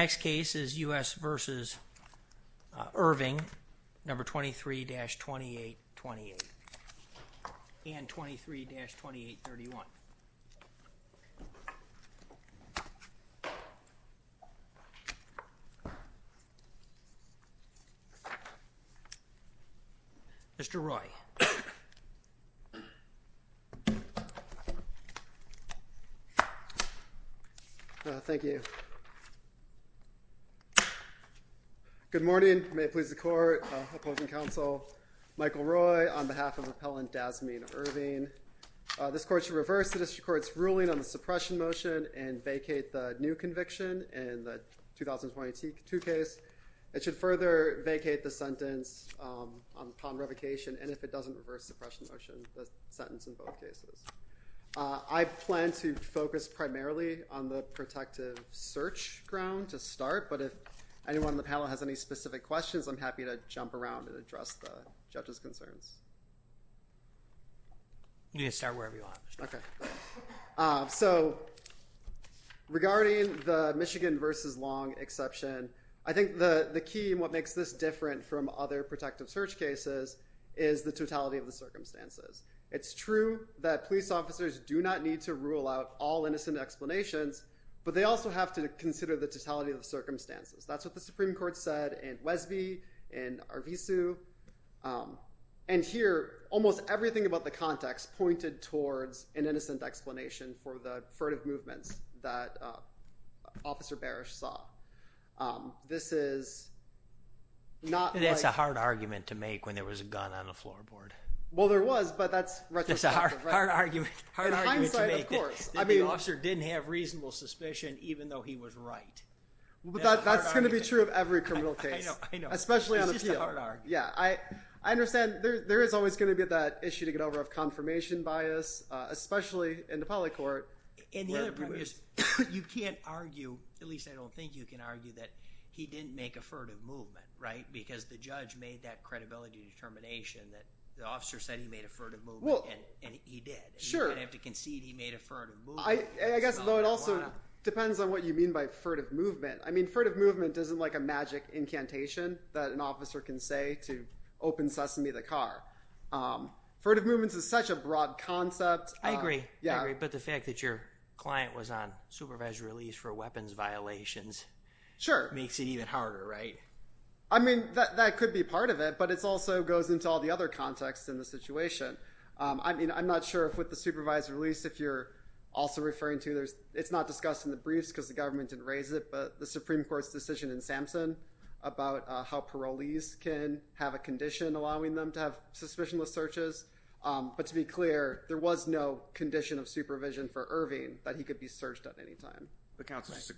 23-2828 and 23-2831. Mr. Roy. Thank you. Good morning. May it please the Court, Opposing Counsel Michael Roy on behalf of Appellant Dazmine Erving. This Court should reverse the District Court's ruling on the suppression motion and vacate the new conviction in the 2020-2 case. It should further vacate the sentence upon revocation, and if it doesn't, reverse suppression motion, the sentence in both cases. I plan to focus primarily on the protective search ground to start, but if anyone on the panel has any specific questions, I'm happy to jump around and address the judge's concerns. You can start wherever you want. So regarding the Michigan v. Long exception, I think the key in what makes this different from other protective search cases is the totality of the circumstances. It's true that police officers do not need to rule out all innocent explanations, but they also have to consider the totality of the circumstances. That's what the Supreme Court said in Wesby, in Arvizu, and here, almost everything about the context pointed towards an innocent explanation for the furtive movements that Officer Barish saw. This is not like... That's a hard argument to make when there was a gun on the floorboard. Well, there was, but that's retrospective, right? That's a hard argument to make that the officer didn't have reasonable suspicion even though he was right. That's going to be true of every criminal case, especially on appeal. I know, I know. It's just a hard argument. Yeah, I understand. There is always going to be that issue to get over of confirmation bias, especially in the polycourt. And the other problem is you can't argue, at least I don't think you can argue, that he didn't make a furtive movement, right? Because the judge made that credibility determination that the officer said he made a furtive movement and he did. Sure. He didn't have to concede he made a furtive movement. I guess, though, it also depends on what you mean by furtive movement. I mean, furtive movement isn't like a magic incantation that an officer can say to open Sesame the car. Furtive movements is such a broad concept. I agree. I agree. But the fact that your client was on supervised release for weapons violations... Sure. ...makes it even harder, right? I mean, that could be part of it, but it also goes into all the other contexts in the situation. I mean, I'm not sure if with the supervised release, if you're also referring to, it's not discussed in the briefs because the government didn't raise it, but the Supreme Court's decision in Sampson about how parolees can have a condition allowing them to have suspicionless searches. But to be clear, there was no condition of supervision for Irving that he could be searched at any time. The counsel's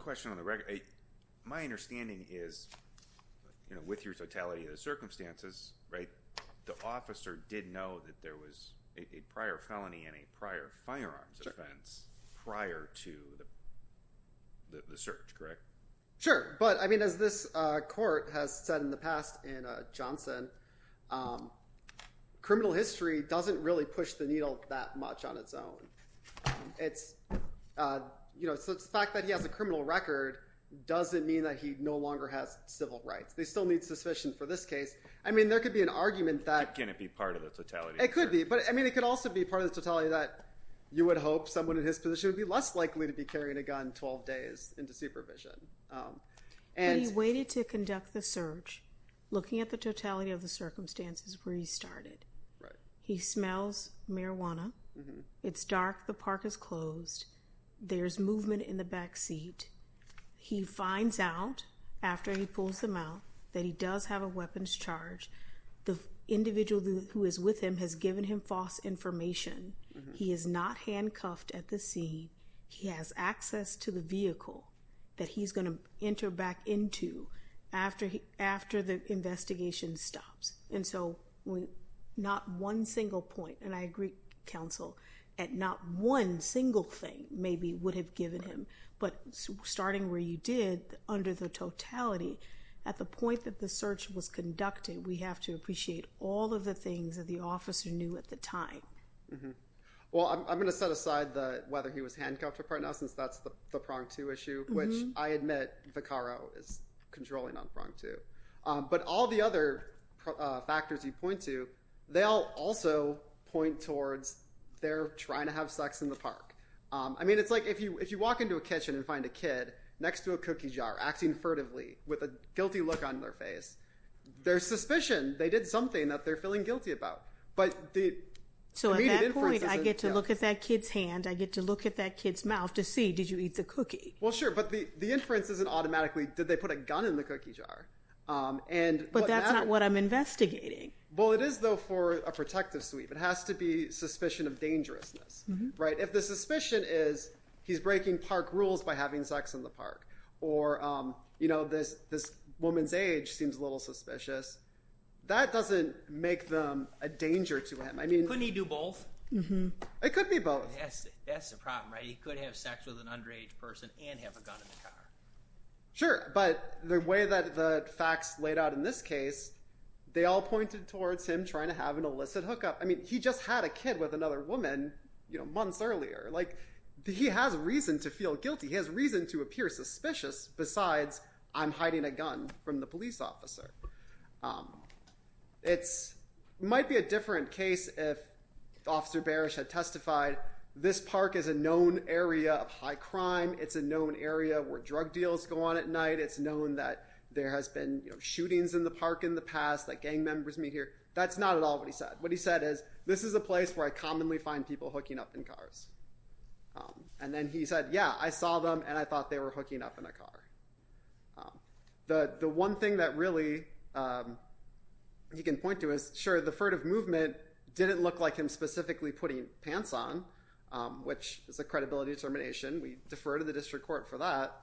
question on the record. My understanding is, with your totality of the circumstances, the officer did know that there was a prior felony and a prior firearms offense prior to the search, correct? Sure. But, I mean, as this court has said in the past in Johnson, criminal history doesn't really push the needle that much on its own. It's, you know, the fact that he has a criminal record doesn't mean that he no longer has civil rights. They still need suspicion for this case. I mean, there could be an argument that... Can it be part of the totality? It could be. But, I mean, it could also be part of the totality that you would hope someone in his position would be less likely to be carrying a gun 12 days into supervision. He waited to conduct the search, looking at the totality of the circumstances where he started. Right. He smells marijuana. It's dark. The park is closed. There's movement in the back seat. He finds out, after he pulls them out, that he does have a weapons charge. The individual who is with him has given him false information. He is not handcuffed at the scene. He has access to the vehicle that he's going to enter back into after the investigation stops. And so, not one single point, and I agree, counsel, that not one single thing maybe would have given him, but starting where you did, under the totality, at the point that the search was conducted, we have to appreciate all of the things that the officer knew at the time. Well, I'm going to set aside whether he was handcuffed or not, since that's the prong two issue, which I admit Vaccaro is controlling on prong two. But all the other factors you point to, they'll also point towards they're trying to have sex in the park. I mean, it's like if you walk into a kitchen and find a kid next to a cookie jar acting furtively with a guilty look on their face, there's suspicion they did something that they're feeling guilty about. But the immediate inference isn't... So, at that point, I get to look at that kid's hand. I get to look at that kid's mouth to see, did you eat the cookie? Well, sure. But the inference isn't automatically, did they put a gun in the cookie jar? And what matters... But that's not what I'm investigating. Well, it is, though, for a protective sweep. It has to be suspicion of dangerousness, right? If the suspicion is he's breaking park rules by having sex in the park, or this woman's age seems a little suspicious, that doesn't make them a danger to him. I mean... Couldn't he do both? It could be both. That's the problem, right? He could have sex with an underage person and have a gun in the car. Sure. But the way that the facts laid out in this case, they all pointed towards him trying to have an illicit hookup. I mean, he just had a kid with another woman months earlier. He has reason to feel guilty. He has reason to appear suspicious, besides, I'm hiding a gun from the police officer. It might be a different case if Officer Barish had testified, this park is a known area. It's a known area of high crime. It's a known area where drug deals go on at night. It's known that there has been shootings in the park in the past, that gang members meet here. That's not at all what he said. What he said is, this is a place where I commonly find people hooking up in cars. And then he said, yeah, I saw them, and I thought they were hooking up in a car. The one thing that really he can point to is, sure, the furtive movement didn't look like him specifically putting pants on, which is a credibility determination. We defer to the district court for that,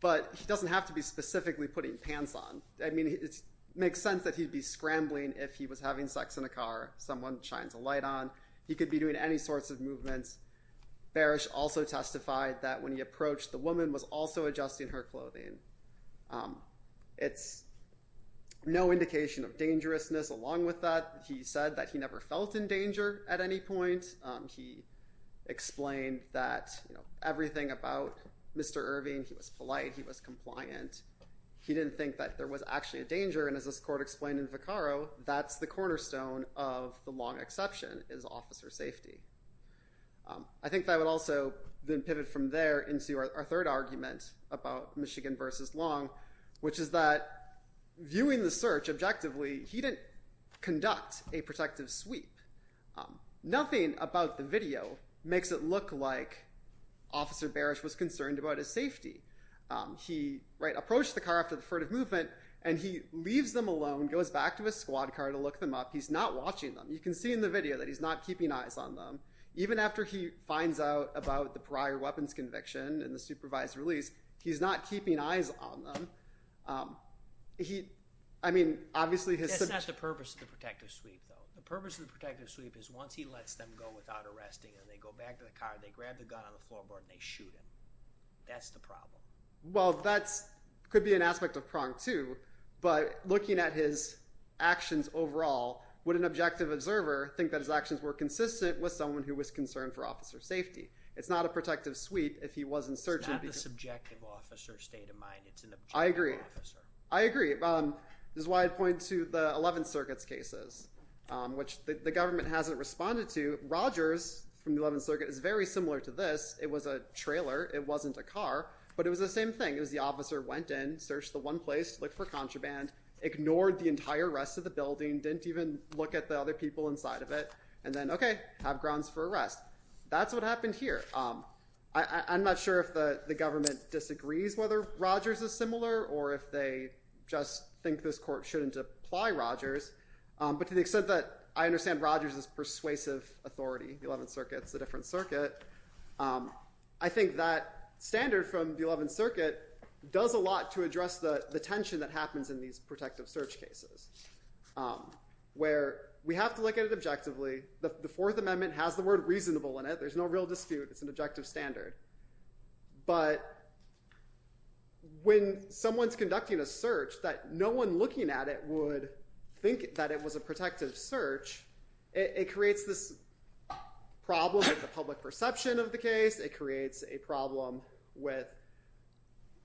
but he doesn't have to be specifically putting pants on. I mean, it makes sense that he'd be scrambling if he was having sex in a car, someone shines a light on. He could be doing any sorts of movements. Barish also testified that when he approached, the woman was also adjusting her clothing. It's no indication of dangerousness along with that. He said that he never felt in danger at any point. He explained that everything about Mr. Irving, he was polite, he was compliant. He didn't think that there was actually a danger, and as this court explained in Vaccaro, that's the cornerstone of the Long exception, is officer safety. I think that would also then pivot from there into our third argument about Michigan versus a protective sweep. Nothing about the video makes it look like officer Barish was concerned about his safety. He approached the car after the furtive movement, and he leaves them alone, goes back to his squad car to look them up. He's not watching them. You can see in the video that he's not keeping eyes on them. Even after he finds out about the prior weapons conviction and the supervised release, he's not keeping eyes on them. I mean, obviously, his... That's not the purpose of the protective sweep, though. The purpose of the protective sweep is once he lets them go without arresting them, they go back to the car, they grab the gun on the floorboard, and they shoot him. That's the problem. Well, that could be an aspect of Prong, too, but looking at his actions overall, would an objective observer think that his actions were consistent with someone who was concerned for officer safety? It's not a protective sweep if he wasn't searching... It's not the subjective officer state of mind. I agree. I agree. This is why I'd point to the 11th Circuit's cases, which the government hasn't responded to. Rogers, from the 11th Circuit, is very similar to this. It was a trailer. It wasn't a car, but it was the same thing. It was the officer went in, searched the one place, looked for contraband, ignored the entire rest of the building, didn't even look at the other people inside of it, and then, okay, have grounds for arrest. That's what happened here. I'm not sure if the government disagrees whether Rogers is similar or if they just think this court shouldn't apply Rogers, but to the extent that I understand Rogers' persuasive authority, the 11th Circuit's a different circuit. I think that standard from the 11th Circuit does a lot to address the tension that happens in these protective search cases, where we have to look at it objectively. The Fourth Amendment has the word reasonable in it. There's no real dispute. It's an objective standard, but when someone's conducting a search that no one looking at it would think that it was a protective search, it creates this problem with the public perception of the case. It creates a problem with,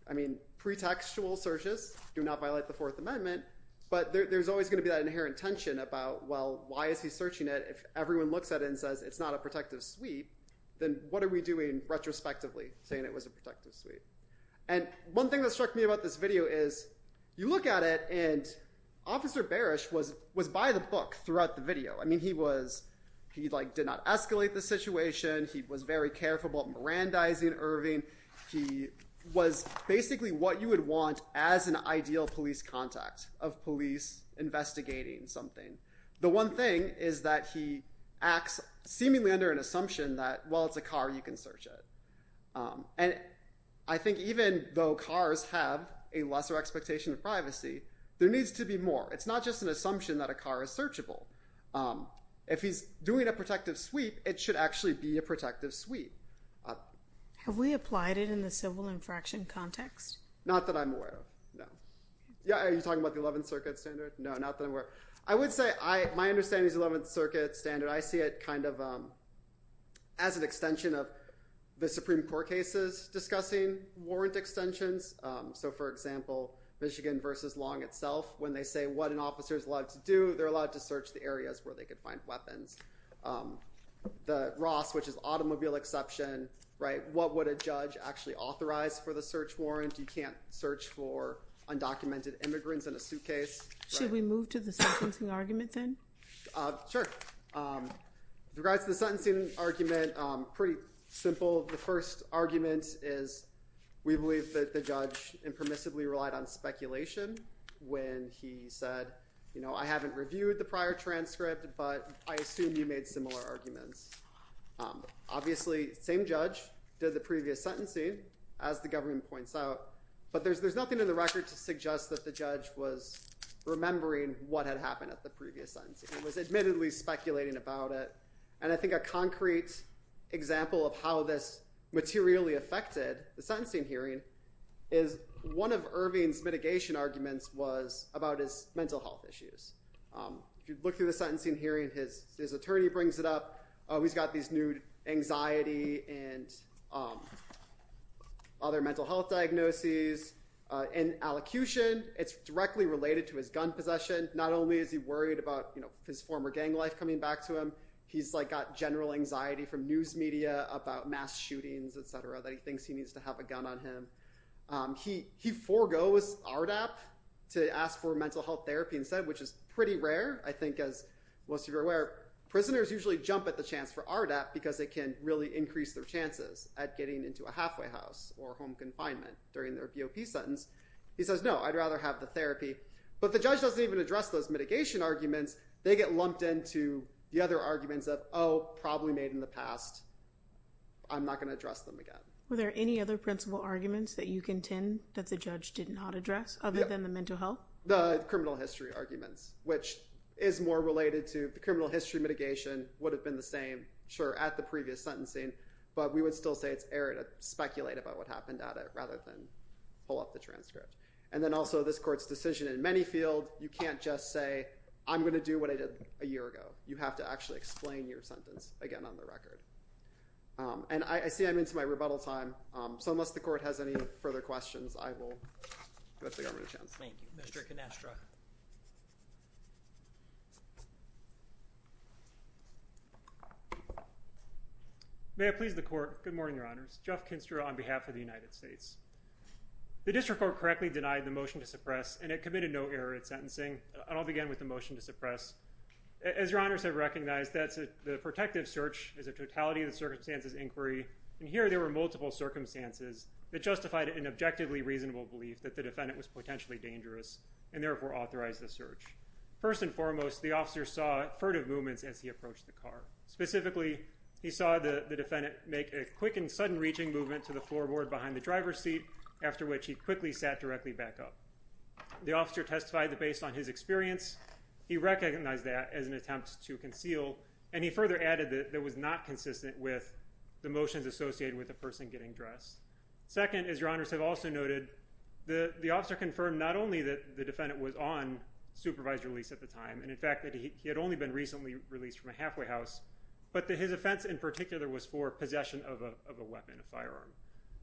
I mean, pretextual searches do not violate the Fourth Amendment, but there's always going to be that inherent tension about, well, why is he searching it if everyone looks at it and says it's not a protective sweep, then what are we doing retrospectively saying it was a protective sweep? One thing that struck me about this video is you look at it, and Officer Barish was by the book throughout the video. He did not escalate the situation. He was very careful about Mirandizing Irving. He was basically what you would want as an ideal police contact of police investigating something. The one thing is that he acts seemingly under an assumption that while it's a car, you can search it, and I think even though cars have a lesser expectation of privacy, there needs to be more. It's not just an assumption that a car is searchable. If he's doing a protective sweep, it should actually be a protective sweep. Have we applied it in the civil infraction context? Not that I'm aware of, no. Yeah, are you talking about the Eleventh Circuit standard? No, not that I'm aware of. I would say my understanding is the Eleventh Circuit standard, I see it kind of as an extension of the Supreme Court cases discussing warrant extensions, so for example, Michigan versus Long itself, when they say what an officer is allowed to do, they're allowed to search the areas where they could find weapons. The Ross, which is automobile exception, what would a judge actually authorize for the search warrant? You can't search for undocumented immigrants in a suitcase. Should we move to the sentencing argument then? Sure. With regards to the sentencing argument, pretty simple. The first argument is we believe that the judge impermissibly relied on speculation when he said, you know, I haven't reviewed the prior transcript, but I assume you made similar arguments. Obviously, same judge did the previous sentencing, as the government points out, but there's no evidence remembering what had happened at the previous sentencing. He was admittedly speculating about it, and I think a concrete example of how this materially affected the sentencing hearing is one of Irving's mitigation arguments was about his mental health issues. If you look through the sentencing hearing, his attorney brings it up, he's got these anxiety and other mental health diagnoses and allocution. It's directly related to his gun possession. Not only is he worried about his former gang life coming back to him, he's got general anxiety from news media about mass shootings, et cetera, that he thinks he needs to have a gun on him. He forgoes RDAP to ask for mental health therapy instead, which is pretty rare, I think as most of you are aware. Prisoners usually jump at the chance for RDAP because it can really increase their chances at getting into a halfway house or home confinement during their BOP sentence. He says, no, I'd rather have the therapy. But the judge doesn't even address those mitigation arguments. They get lumped into the other arguments of, oh, probably made in the past, I'm not going to address them again. Were there any other principal arguments that you contend that the judge did not address other than the mental health? The criminal history arguments, which is more related to the criminal history mitigation would have been the same, sure, at the previous sentencing, but we would still say it's error to speculate about what happened at it rather than pull up the transcript. And then also this court's decision in many field, you can't just say, I'm going to do what I did a year ago. You have to actually explain your sentence again on the record. And I see I'm into my rebuttal time. So unless the court has any further questions, I will give the governor a chance. Thank you. Mr. Canestra. May I please the court? Good morning, your honors. Jeff Canestra on behalf of the United States. The district court correctly denied the motion to suppress and it committed no error at sentencing. And I'll begin with the motion to suppress. As your honors have recognized, that's the protective search is a totality of the circumstances inquiry. And here there were multiple circumstances that justified an objectively reasonable belief that the defendant was potentially dangerous and therefore authorized the search. First and foremost, the officer saw furtive movements as he approached the car. Specifically he saw the defendant make a quick and sudden reaching movement to the floorboard behind the driver's seat, after which he quickly sat directly back up. The officer testified that based on his experience, he recognized that as an attempt to conceal. And he further added that there was not consistent with the motions associated with the person getting dressed. Second, as your honors have also noted, the officer confirmed not only that the defendant was on supervised release at the time, and in fact that he had only been recently released from a halfway house, but that his offense in particular was for possession of a weapon, a firearm.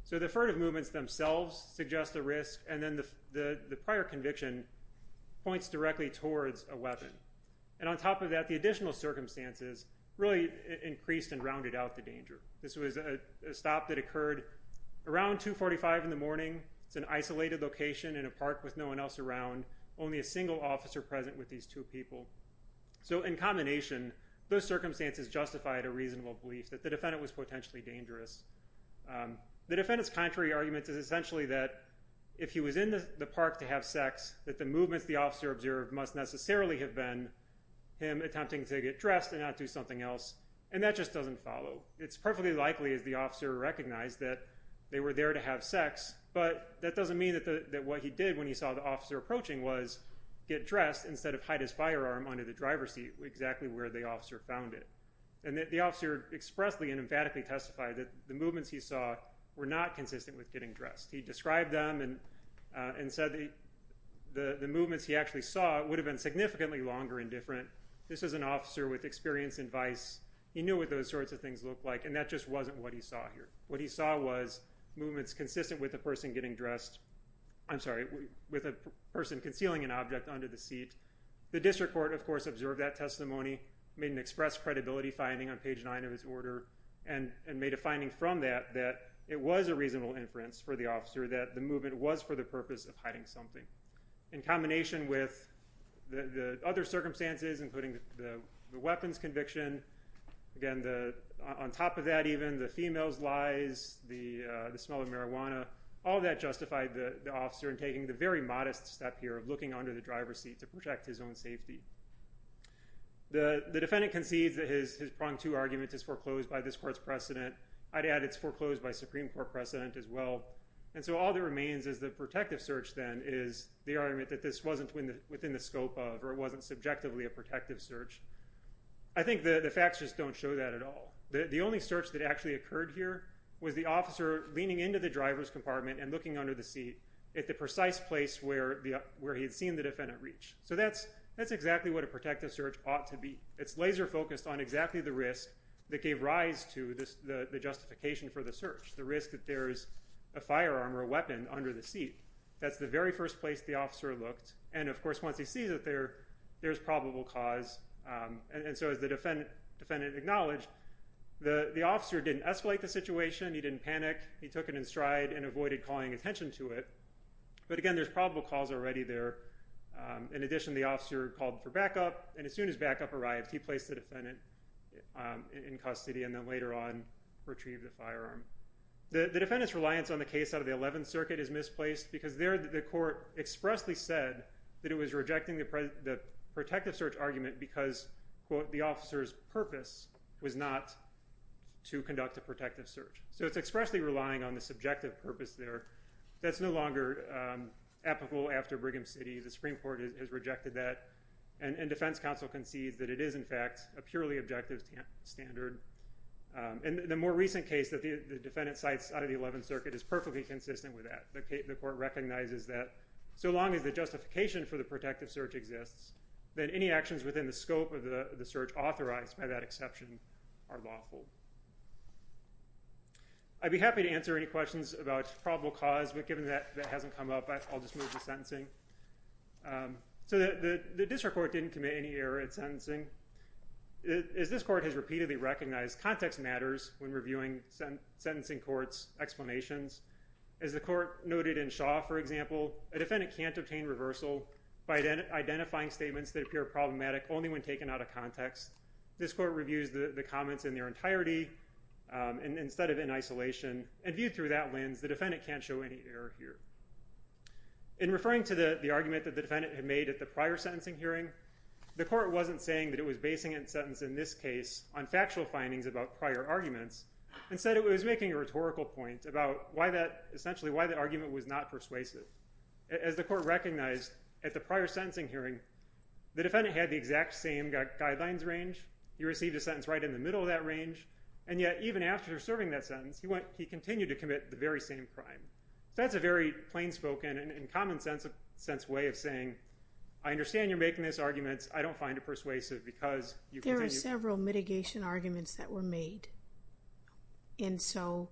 So the furtive movements themselves suggest a risk. And then the prior conviction points directly towards a weapon. And on top of that, the additional circumstances really increased and rounded out the danger. This was a stop that occurred around 2.45 in the morning, it's an isolated location in a park with no one else around, only a single officer present with these two people. So in combination, those circumstances justified a reasonable belief that the defendant was potentially dangerous. The defendant's contrary argument is essentially that if he was in the park to have sex, that the movements the officer observed must necessarily have been him attempting to get dressed and not do something else. And that just doesn't follow. It's perfectly likely, as the officer recognized, that they were there to have sex, but that doesn't mean that what he did when he saw the officer approaching was get dressed instead of hide his firearm under the driver's seat, exactly where the officer found it. And the officer expressly and emphatically testified that the movements he saw were not consistent with getting dressed. He described them and said the movements he actually saw would have been significantly longer and different. This is an officer with experience and vice. He knew what those sorts of things looked like, and that just wasn't what he saw here. What he saw was movements consistent with a person getting dressed, I'm sorry, with a person concealing an object under the seat. The district court, of course, observed that testimony, made an express credibility finding on page nine of his order, and made a finding from that that it was a reasonable inference for the officer that the movement was for the purpose of hiding something. In combination with the other circumstances, including the weapons conviction, again, on top of that even, the female's lies, the smell of marijuana, all that justified the officer in taking the very modest step here of looking under the driver's seat to protect his own safety. The defendant concedes that his pronged-to argument is foreclosed by this court's precedent. I'd add it's foreclosed by Supreme Court precedent as well. All that remains is the protective search, then, is the argument that this wasn't within the scope of, or it wasn't subjectively a protective search. I think the facts just don't show that at all. The only search that actually occurred here was the officer leaning into the driver's compartment and looking under the seat at the precise place where he had seen the defendant reach. That's exactly what a protective search ought to be. It's laser-focused on exactly the risk that gave rise to the justification for the search, the risk that there's a firearm or a weapon under the seat. That's the very first place the officer looked. Of course, once he sees it there, there's probable cause, and so as the defendant acknowledged, the officer didn't escalate the situation, he didn't panic, he took it in stride and avoided calling attention to it, but again, there's probable cause already there. In addition, the officer called for backup, and as soon as backup arrived, he placed the firearm. The defendant's reliance on the case out of the Eleventh Circuit is misplaced because there the court expressly said that it was rejecting the protective search argument because quote, the officer's purpose was not to conduct a protective search. So it's expressly relying on the subjective purpose there. That's no longer applicable after Brigham City. The Supreme Court has rejected that, and defense counsel concedes that it is in fact a purely objective standard. And the more recent case that the defendant cites out of the Eleventh Circuit is perfectly consistent with that. The court recognizes that so long as the justification for the protective search exists, then any actions within the scope of the search authorized by that exception are lawful. I'd be happy to answer any questions about probable cause, but given that that hasn't come up, I'll just move to sentencing. So the district court didn't commit any error in sentencing. As this court has repeatedly recognized, context matters when reviewing sentencing court's explanations. As the court noted in Shaw, for example, a defendant can't obtain reversal by identifying statements that appear problematic only when taken out of context. This court reviews the comments in their entirety instead of in isolation, and viewed through that lens, the defendant can't show any error here. In referring to the argument that the defendant had made at the prior sentencing hearing, the court wasn't saying that it was basing its sentence in this case on factual findings about prior arguments. Instead, it was making a rhetorical point about why that argument was not persuasive. As the court recognized at the prior sentencing hearing, the defendant had the exact same guidelines range, he received a sentence right in the middle of that range, and yet even after serving that sentence, he continued to commit the very same crime. That's a very plain spoken and common sense way of saying, I understand you're making this argument, I don't find it persuasive because you continue... There are several mitigation arguments that were made. And so,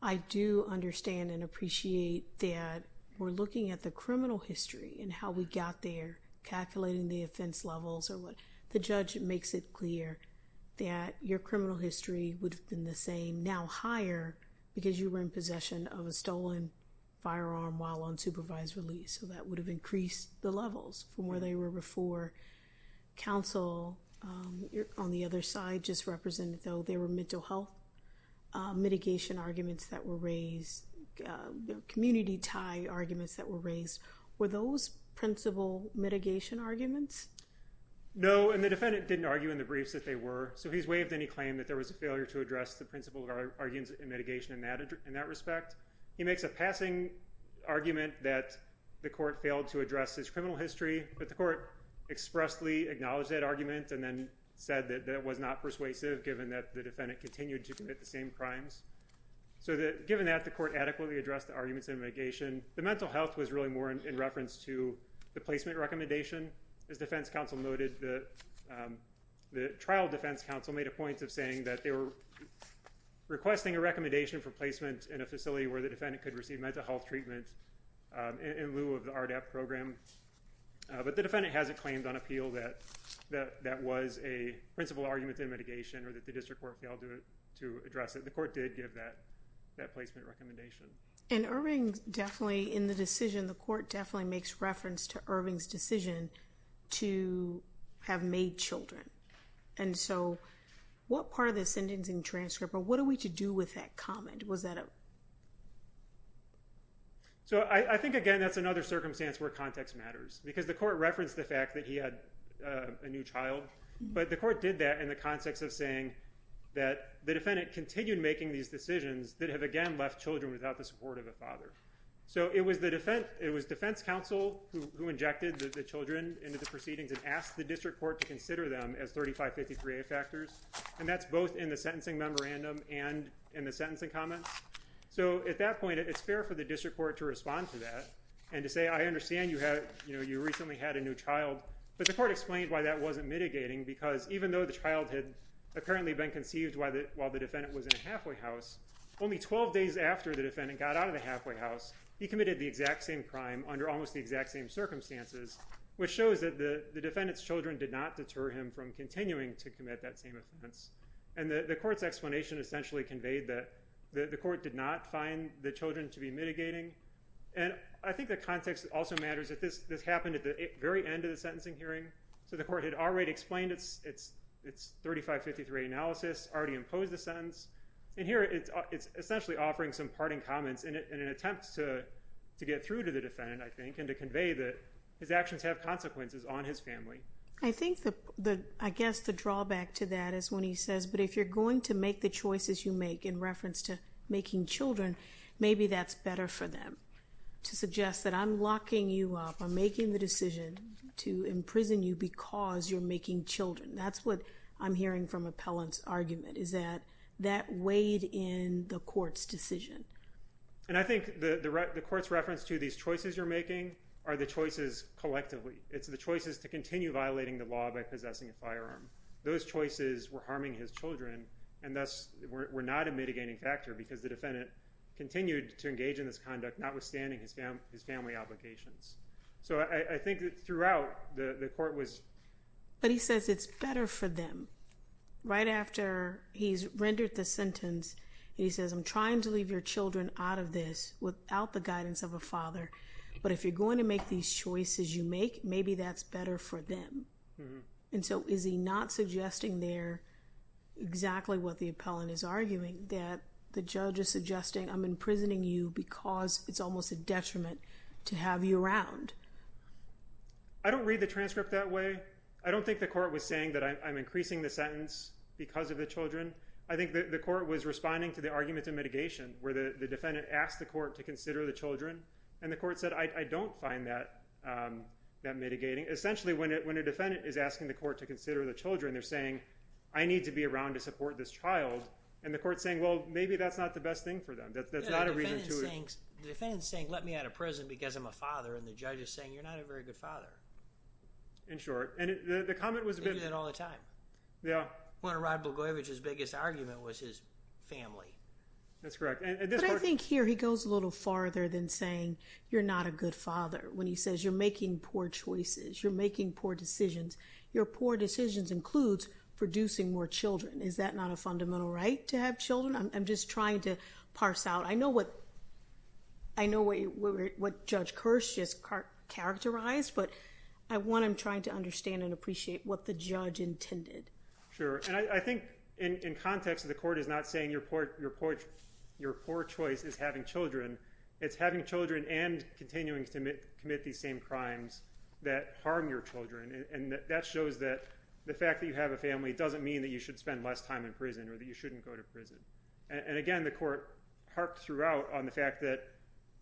I do understand and appreciate that we're looking at the criminal history and how we got there, calculating the offense levels or what, the judge makes it clear that your criminal history would have been the same, now higher, because you were in possession of a stolen firearm while on supervised release. So, that would have increased the levels from where they were before counsel. On the other side, just represented though, there were mental health mitigation arguments that were raised, community tie arguments that were raised. Were those principal mitigation arguments? No, and the defendant didn't argue in the briefs that they were. So, he's waived any claim that there was a failure to address the principle of arguments in mitigation in that respect. He makes a passing argument that the court failed to address his criminal history, but the court expressly acknowledged that argument and then said that it was not persuasive given that the defendant continued to commit the same crimes. So, given that, the court adequately addressed the arguments in mitigation. The mental health was really more in reference to the placement recommendation. As defense counsel noted, the trial defense counsel made a point of saying that they were the defendant could receive mental health treatment in lieu of the RDAP program, but the defendant hasn't claimed on appeal that that was a principle argument in mitigation or that the district court failed to address it. The court did give that placement recommendation. And Irving definitely, in the decision, the court definitely makes reference to Irving's decision to have made children. And so, what part of the sentencing transcript, or what are we to do with that comment? Was that a... So, I think, again, that's another circumstance where context matters, because the court referenced the fact that he had a new child, but the court did that in the context of saying that the defendant continued making these decisions that have, again, left children without the support of a father. So, it was defense counsel who injected the children into the proceedings and asked the district court to consider them as 3553A factors, and that's both in the sentencing memorandum and in the sentencing comments. So, at that point, it's fair for the district court to respond to that and to say, I understand you recently had a new child, but the court explained why that wasn't mitigating, because even though the child had apparently been conceived while the defendant was in a halfway house, only 12 days after the defendant got out of the halfway house, he committed the exact same crime under almost the exact same circumstances, which shows that the defendant's children did not deter him from continuing to commit that same offense. And the court's explanation essentially conveyed that the court did not find the children to be mitigating, and I think the context also matters that this happened at the very end of the sentencing hearing, so the court had already explained its 3553A analysis, already imposed the sentence, and here it's essentially offering some parting comments in an attempt to get through to the defendant, I think, and to convey that his actions have consequences on his family. I think the, I guess the drawback to that is when he says, but if you're going to make the choices you make in reference to making children, maybe that's better for them, to suggest that I'm locking you up, I'm making the decision to imprison you because you're making children, that's what I'm hearing from Appellant's argument, is that that weighed in the court's decision. And I think the court's reference to these choices you're making are the choices collectively, it's the choices to continue violating the law by possessing a firearm. Those choices were harming his children and thus were not a mitigating factor because the defendant continued to engage in this conduct notwithstanding his family obligations. So I think that throughout, the court was... But he says it's better for them. Right after he's rendered the sentence, he says, I'm trying to leave your children out of this without the guidance of a father, but if you're going to make these choices you make, maybe that's better for them. And so is he not suggesting there exactly what the Appellant is arguing, that the judge is suggesting I'm imprisoning you because it's almost a detriment to have you around? I don't read the transcript that way. I don't think the court was saying that I'm increasing the sentence because of the children. I think the court was responding to the arguments of mitigation where the defendant asked the that mitigating. Essentially, when a defendant is asking the court to consider the children, they're saying, I need to be around to support this child, and the court's saying, well, maybe that's not the best thing for them. That's not a reason to... Yeah, the defendant's saying, let me out of prison because I'm a father, and the judge is saying, you're not a very good father. In short. And the comment was a bit... They do that all the time. Yeah. When Rod Blagojevich's biggest argument was his family. That's correct. But I think here, he goes a little farther than saying, you're not a good father. When he says, you're making poor choices, you're making poor decisions. Your poor decisions includes producing more children. Is that not a fundamental right to have children? I'm just trying to parse out. I know what Judge Kirsch just characterized, but at one, I'm trying to understand and appreciate what the judge intended. Sure. And I think in context, the court is not saying your poor choice is having children. It's having children and continuing to commit these same crimes that harm your children. And that shows that the fact that you have a family doesn't mean that you should spend less time in prison or that you shouldn't go to prison. And again, the court harked throughout on the fact that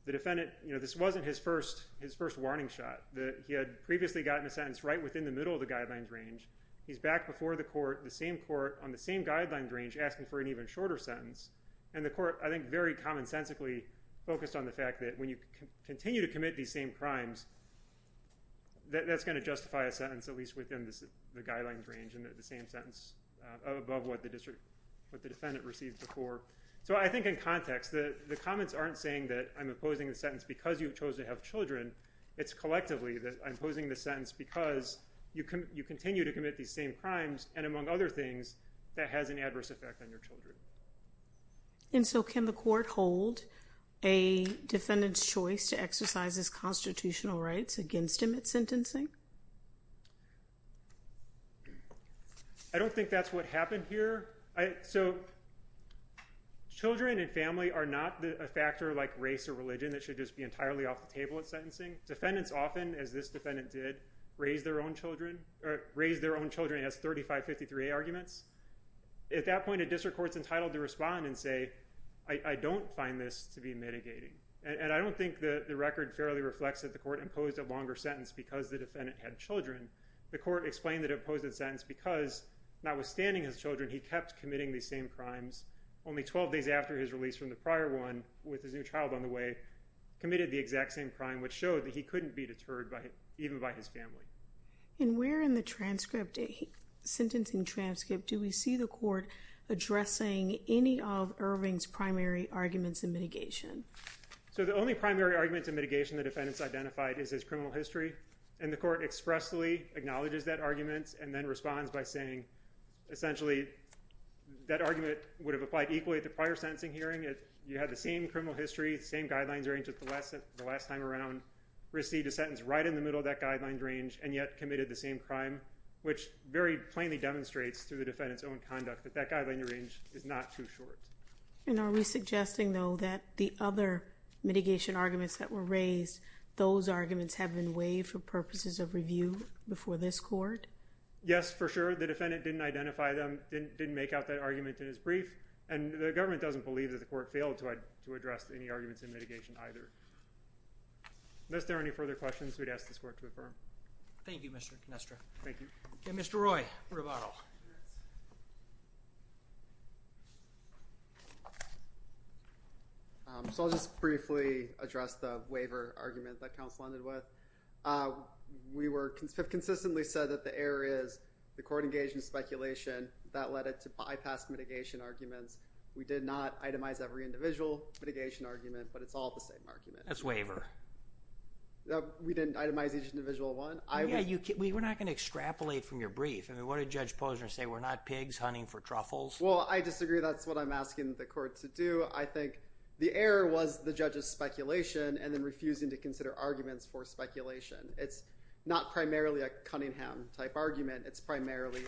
the defendant... This wasn't his first warning shot. He had previously gotten a sentence right within the middle of the guidelines range. He's back before the court, the same court, on the same guidelines range, asking for an even shorter sentence. And the court, I think, very commonsensically focused on the fact that when you continue to commit these same crimes, that's going to justify a sentence at least within the guidelines range and the same sentence above what the defendant received before. So I think in context, the comments aren't saying that I'm opposing the sentence because you chose to have children. It's collectively that I'm opposing the sentence because you continue to commit these same crimes. And so can the court hold a defendant's choice to exercise his constitutional rights against him at sentencing? I don't think that's what happened here. So children and family are not a factor like race or religion that should just be entirely off the table at sentencing. Defendants often, as this defendant did, raise their own children as 3553A arguments. At that point, a district court's entitled to respond and say, I don't find this to be mitigating. And I don't think the record fairly reflects that the court imposed a longer sentence because the defendant had children. The court explained that it opposed the sentence because, notwithstanding his children, he kept committing these same crimes only 12 days after his release from the prior one with his new child on the way, committed the exact same crime, which showed that he couldn't be deterred even by his family. And where in the transcript, the sentencing transcript, do we see the court addressing any of Irving's primary arguments in mitigation? So the only primary arguments in mitigation the defendants identified is his criminal history. And the court expressly acknowledges that argument and then responds by saying, essentially, that argument would have applied equally at the prior sentencing hearing. You had the same criminal history, same guidelines range as the last time around, received a sentence, and yet committed the same crime, which very plainly demonstrates, through the defendant's own conduct, that that guideline range is not too short. And are we suggesting, though, that the other mitigation arguments that were raised, those arguments have been waived for purposes of review before this court? Yes, for sure. The defendant didn't identify them, didn't make out that argument in his brief, and the government doesn't believe that the court failed to address any arguments in mitigation either. And is there any further questions we'd ask this court to affirm? Thank you, Mr. Canestra. Thank you. Okay, Mr. Roy, rebuttal. So I'll just briefly address the waiver argument that counsel ended with. We were consistently said that the error is the court engaged in speculation that led it to bypass mitigation arguments. We did not itemize every individual mitigation argument, but it's all the same argument. That's waiver. We didn't itemize each individual one. Yeah, we're not going to extrapolate from your brief. I mean, what did Judge Posner say? We're not pigs hunting for truffles? Well, I disagree. That's what I'm asking the court to do. I think the error was the judge's speculation and then refusing to consider arguments for speculation. It's not primarily a Cunningham-type argument. It's primarily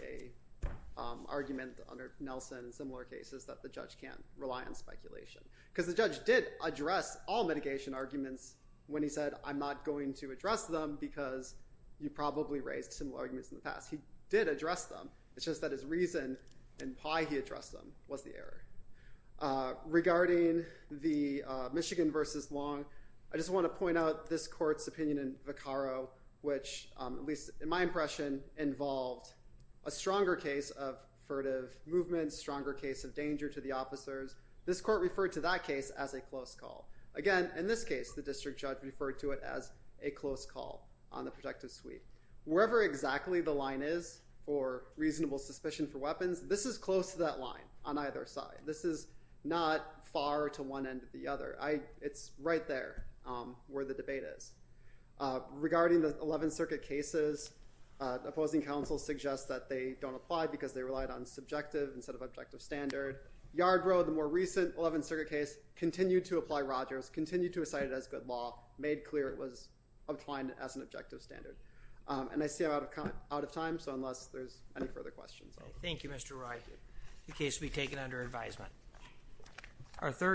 an argument under Nelson and similar cases that the judge can't rely on speculation. Because the judge did address all mitigation arguments when he said, I'm not going to address them because you probably raised similar arguments in the past. He did address them. It's just that his reason and why he addressed them was the error. Regarding the Michigan versus Long, I just want to point out this court's opinion in a stronger case of furtive movement, stronger case of danger to the officers. This court referred to that case as a close call. Again, in this case, the district judge referred to it as a close call on the protective suite. Wherever exactly the line is for reasonable suspicion for weapons, this is close to that line on either side. This is not far to one end or the other. It's right there where the debate is. Regarding the Eleventh Circuit cases, opposing counsel suggests that they don't apply because they relied on subjective instead of objective standard. Yard Road, the more recent Eleventh Circuit case, continued to apply Rogers, continued to recite it as good law, made clear it was obtained as an objective standard. And I see I'm out of time, so unless there's any further questions. Thank you, Mr. Roy. The case will be taken under advisement. Our third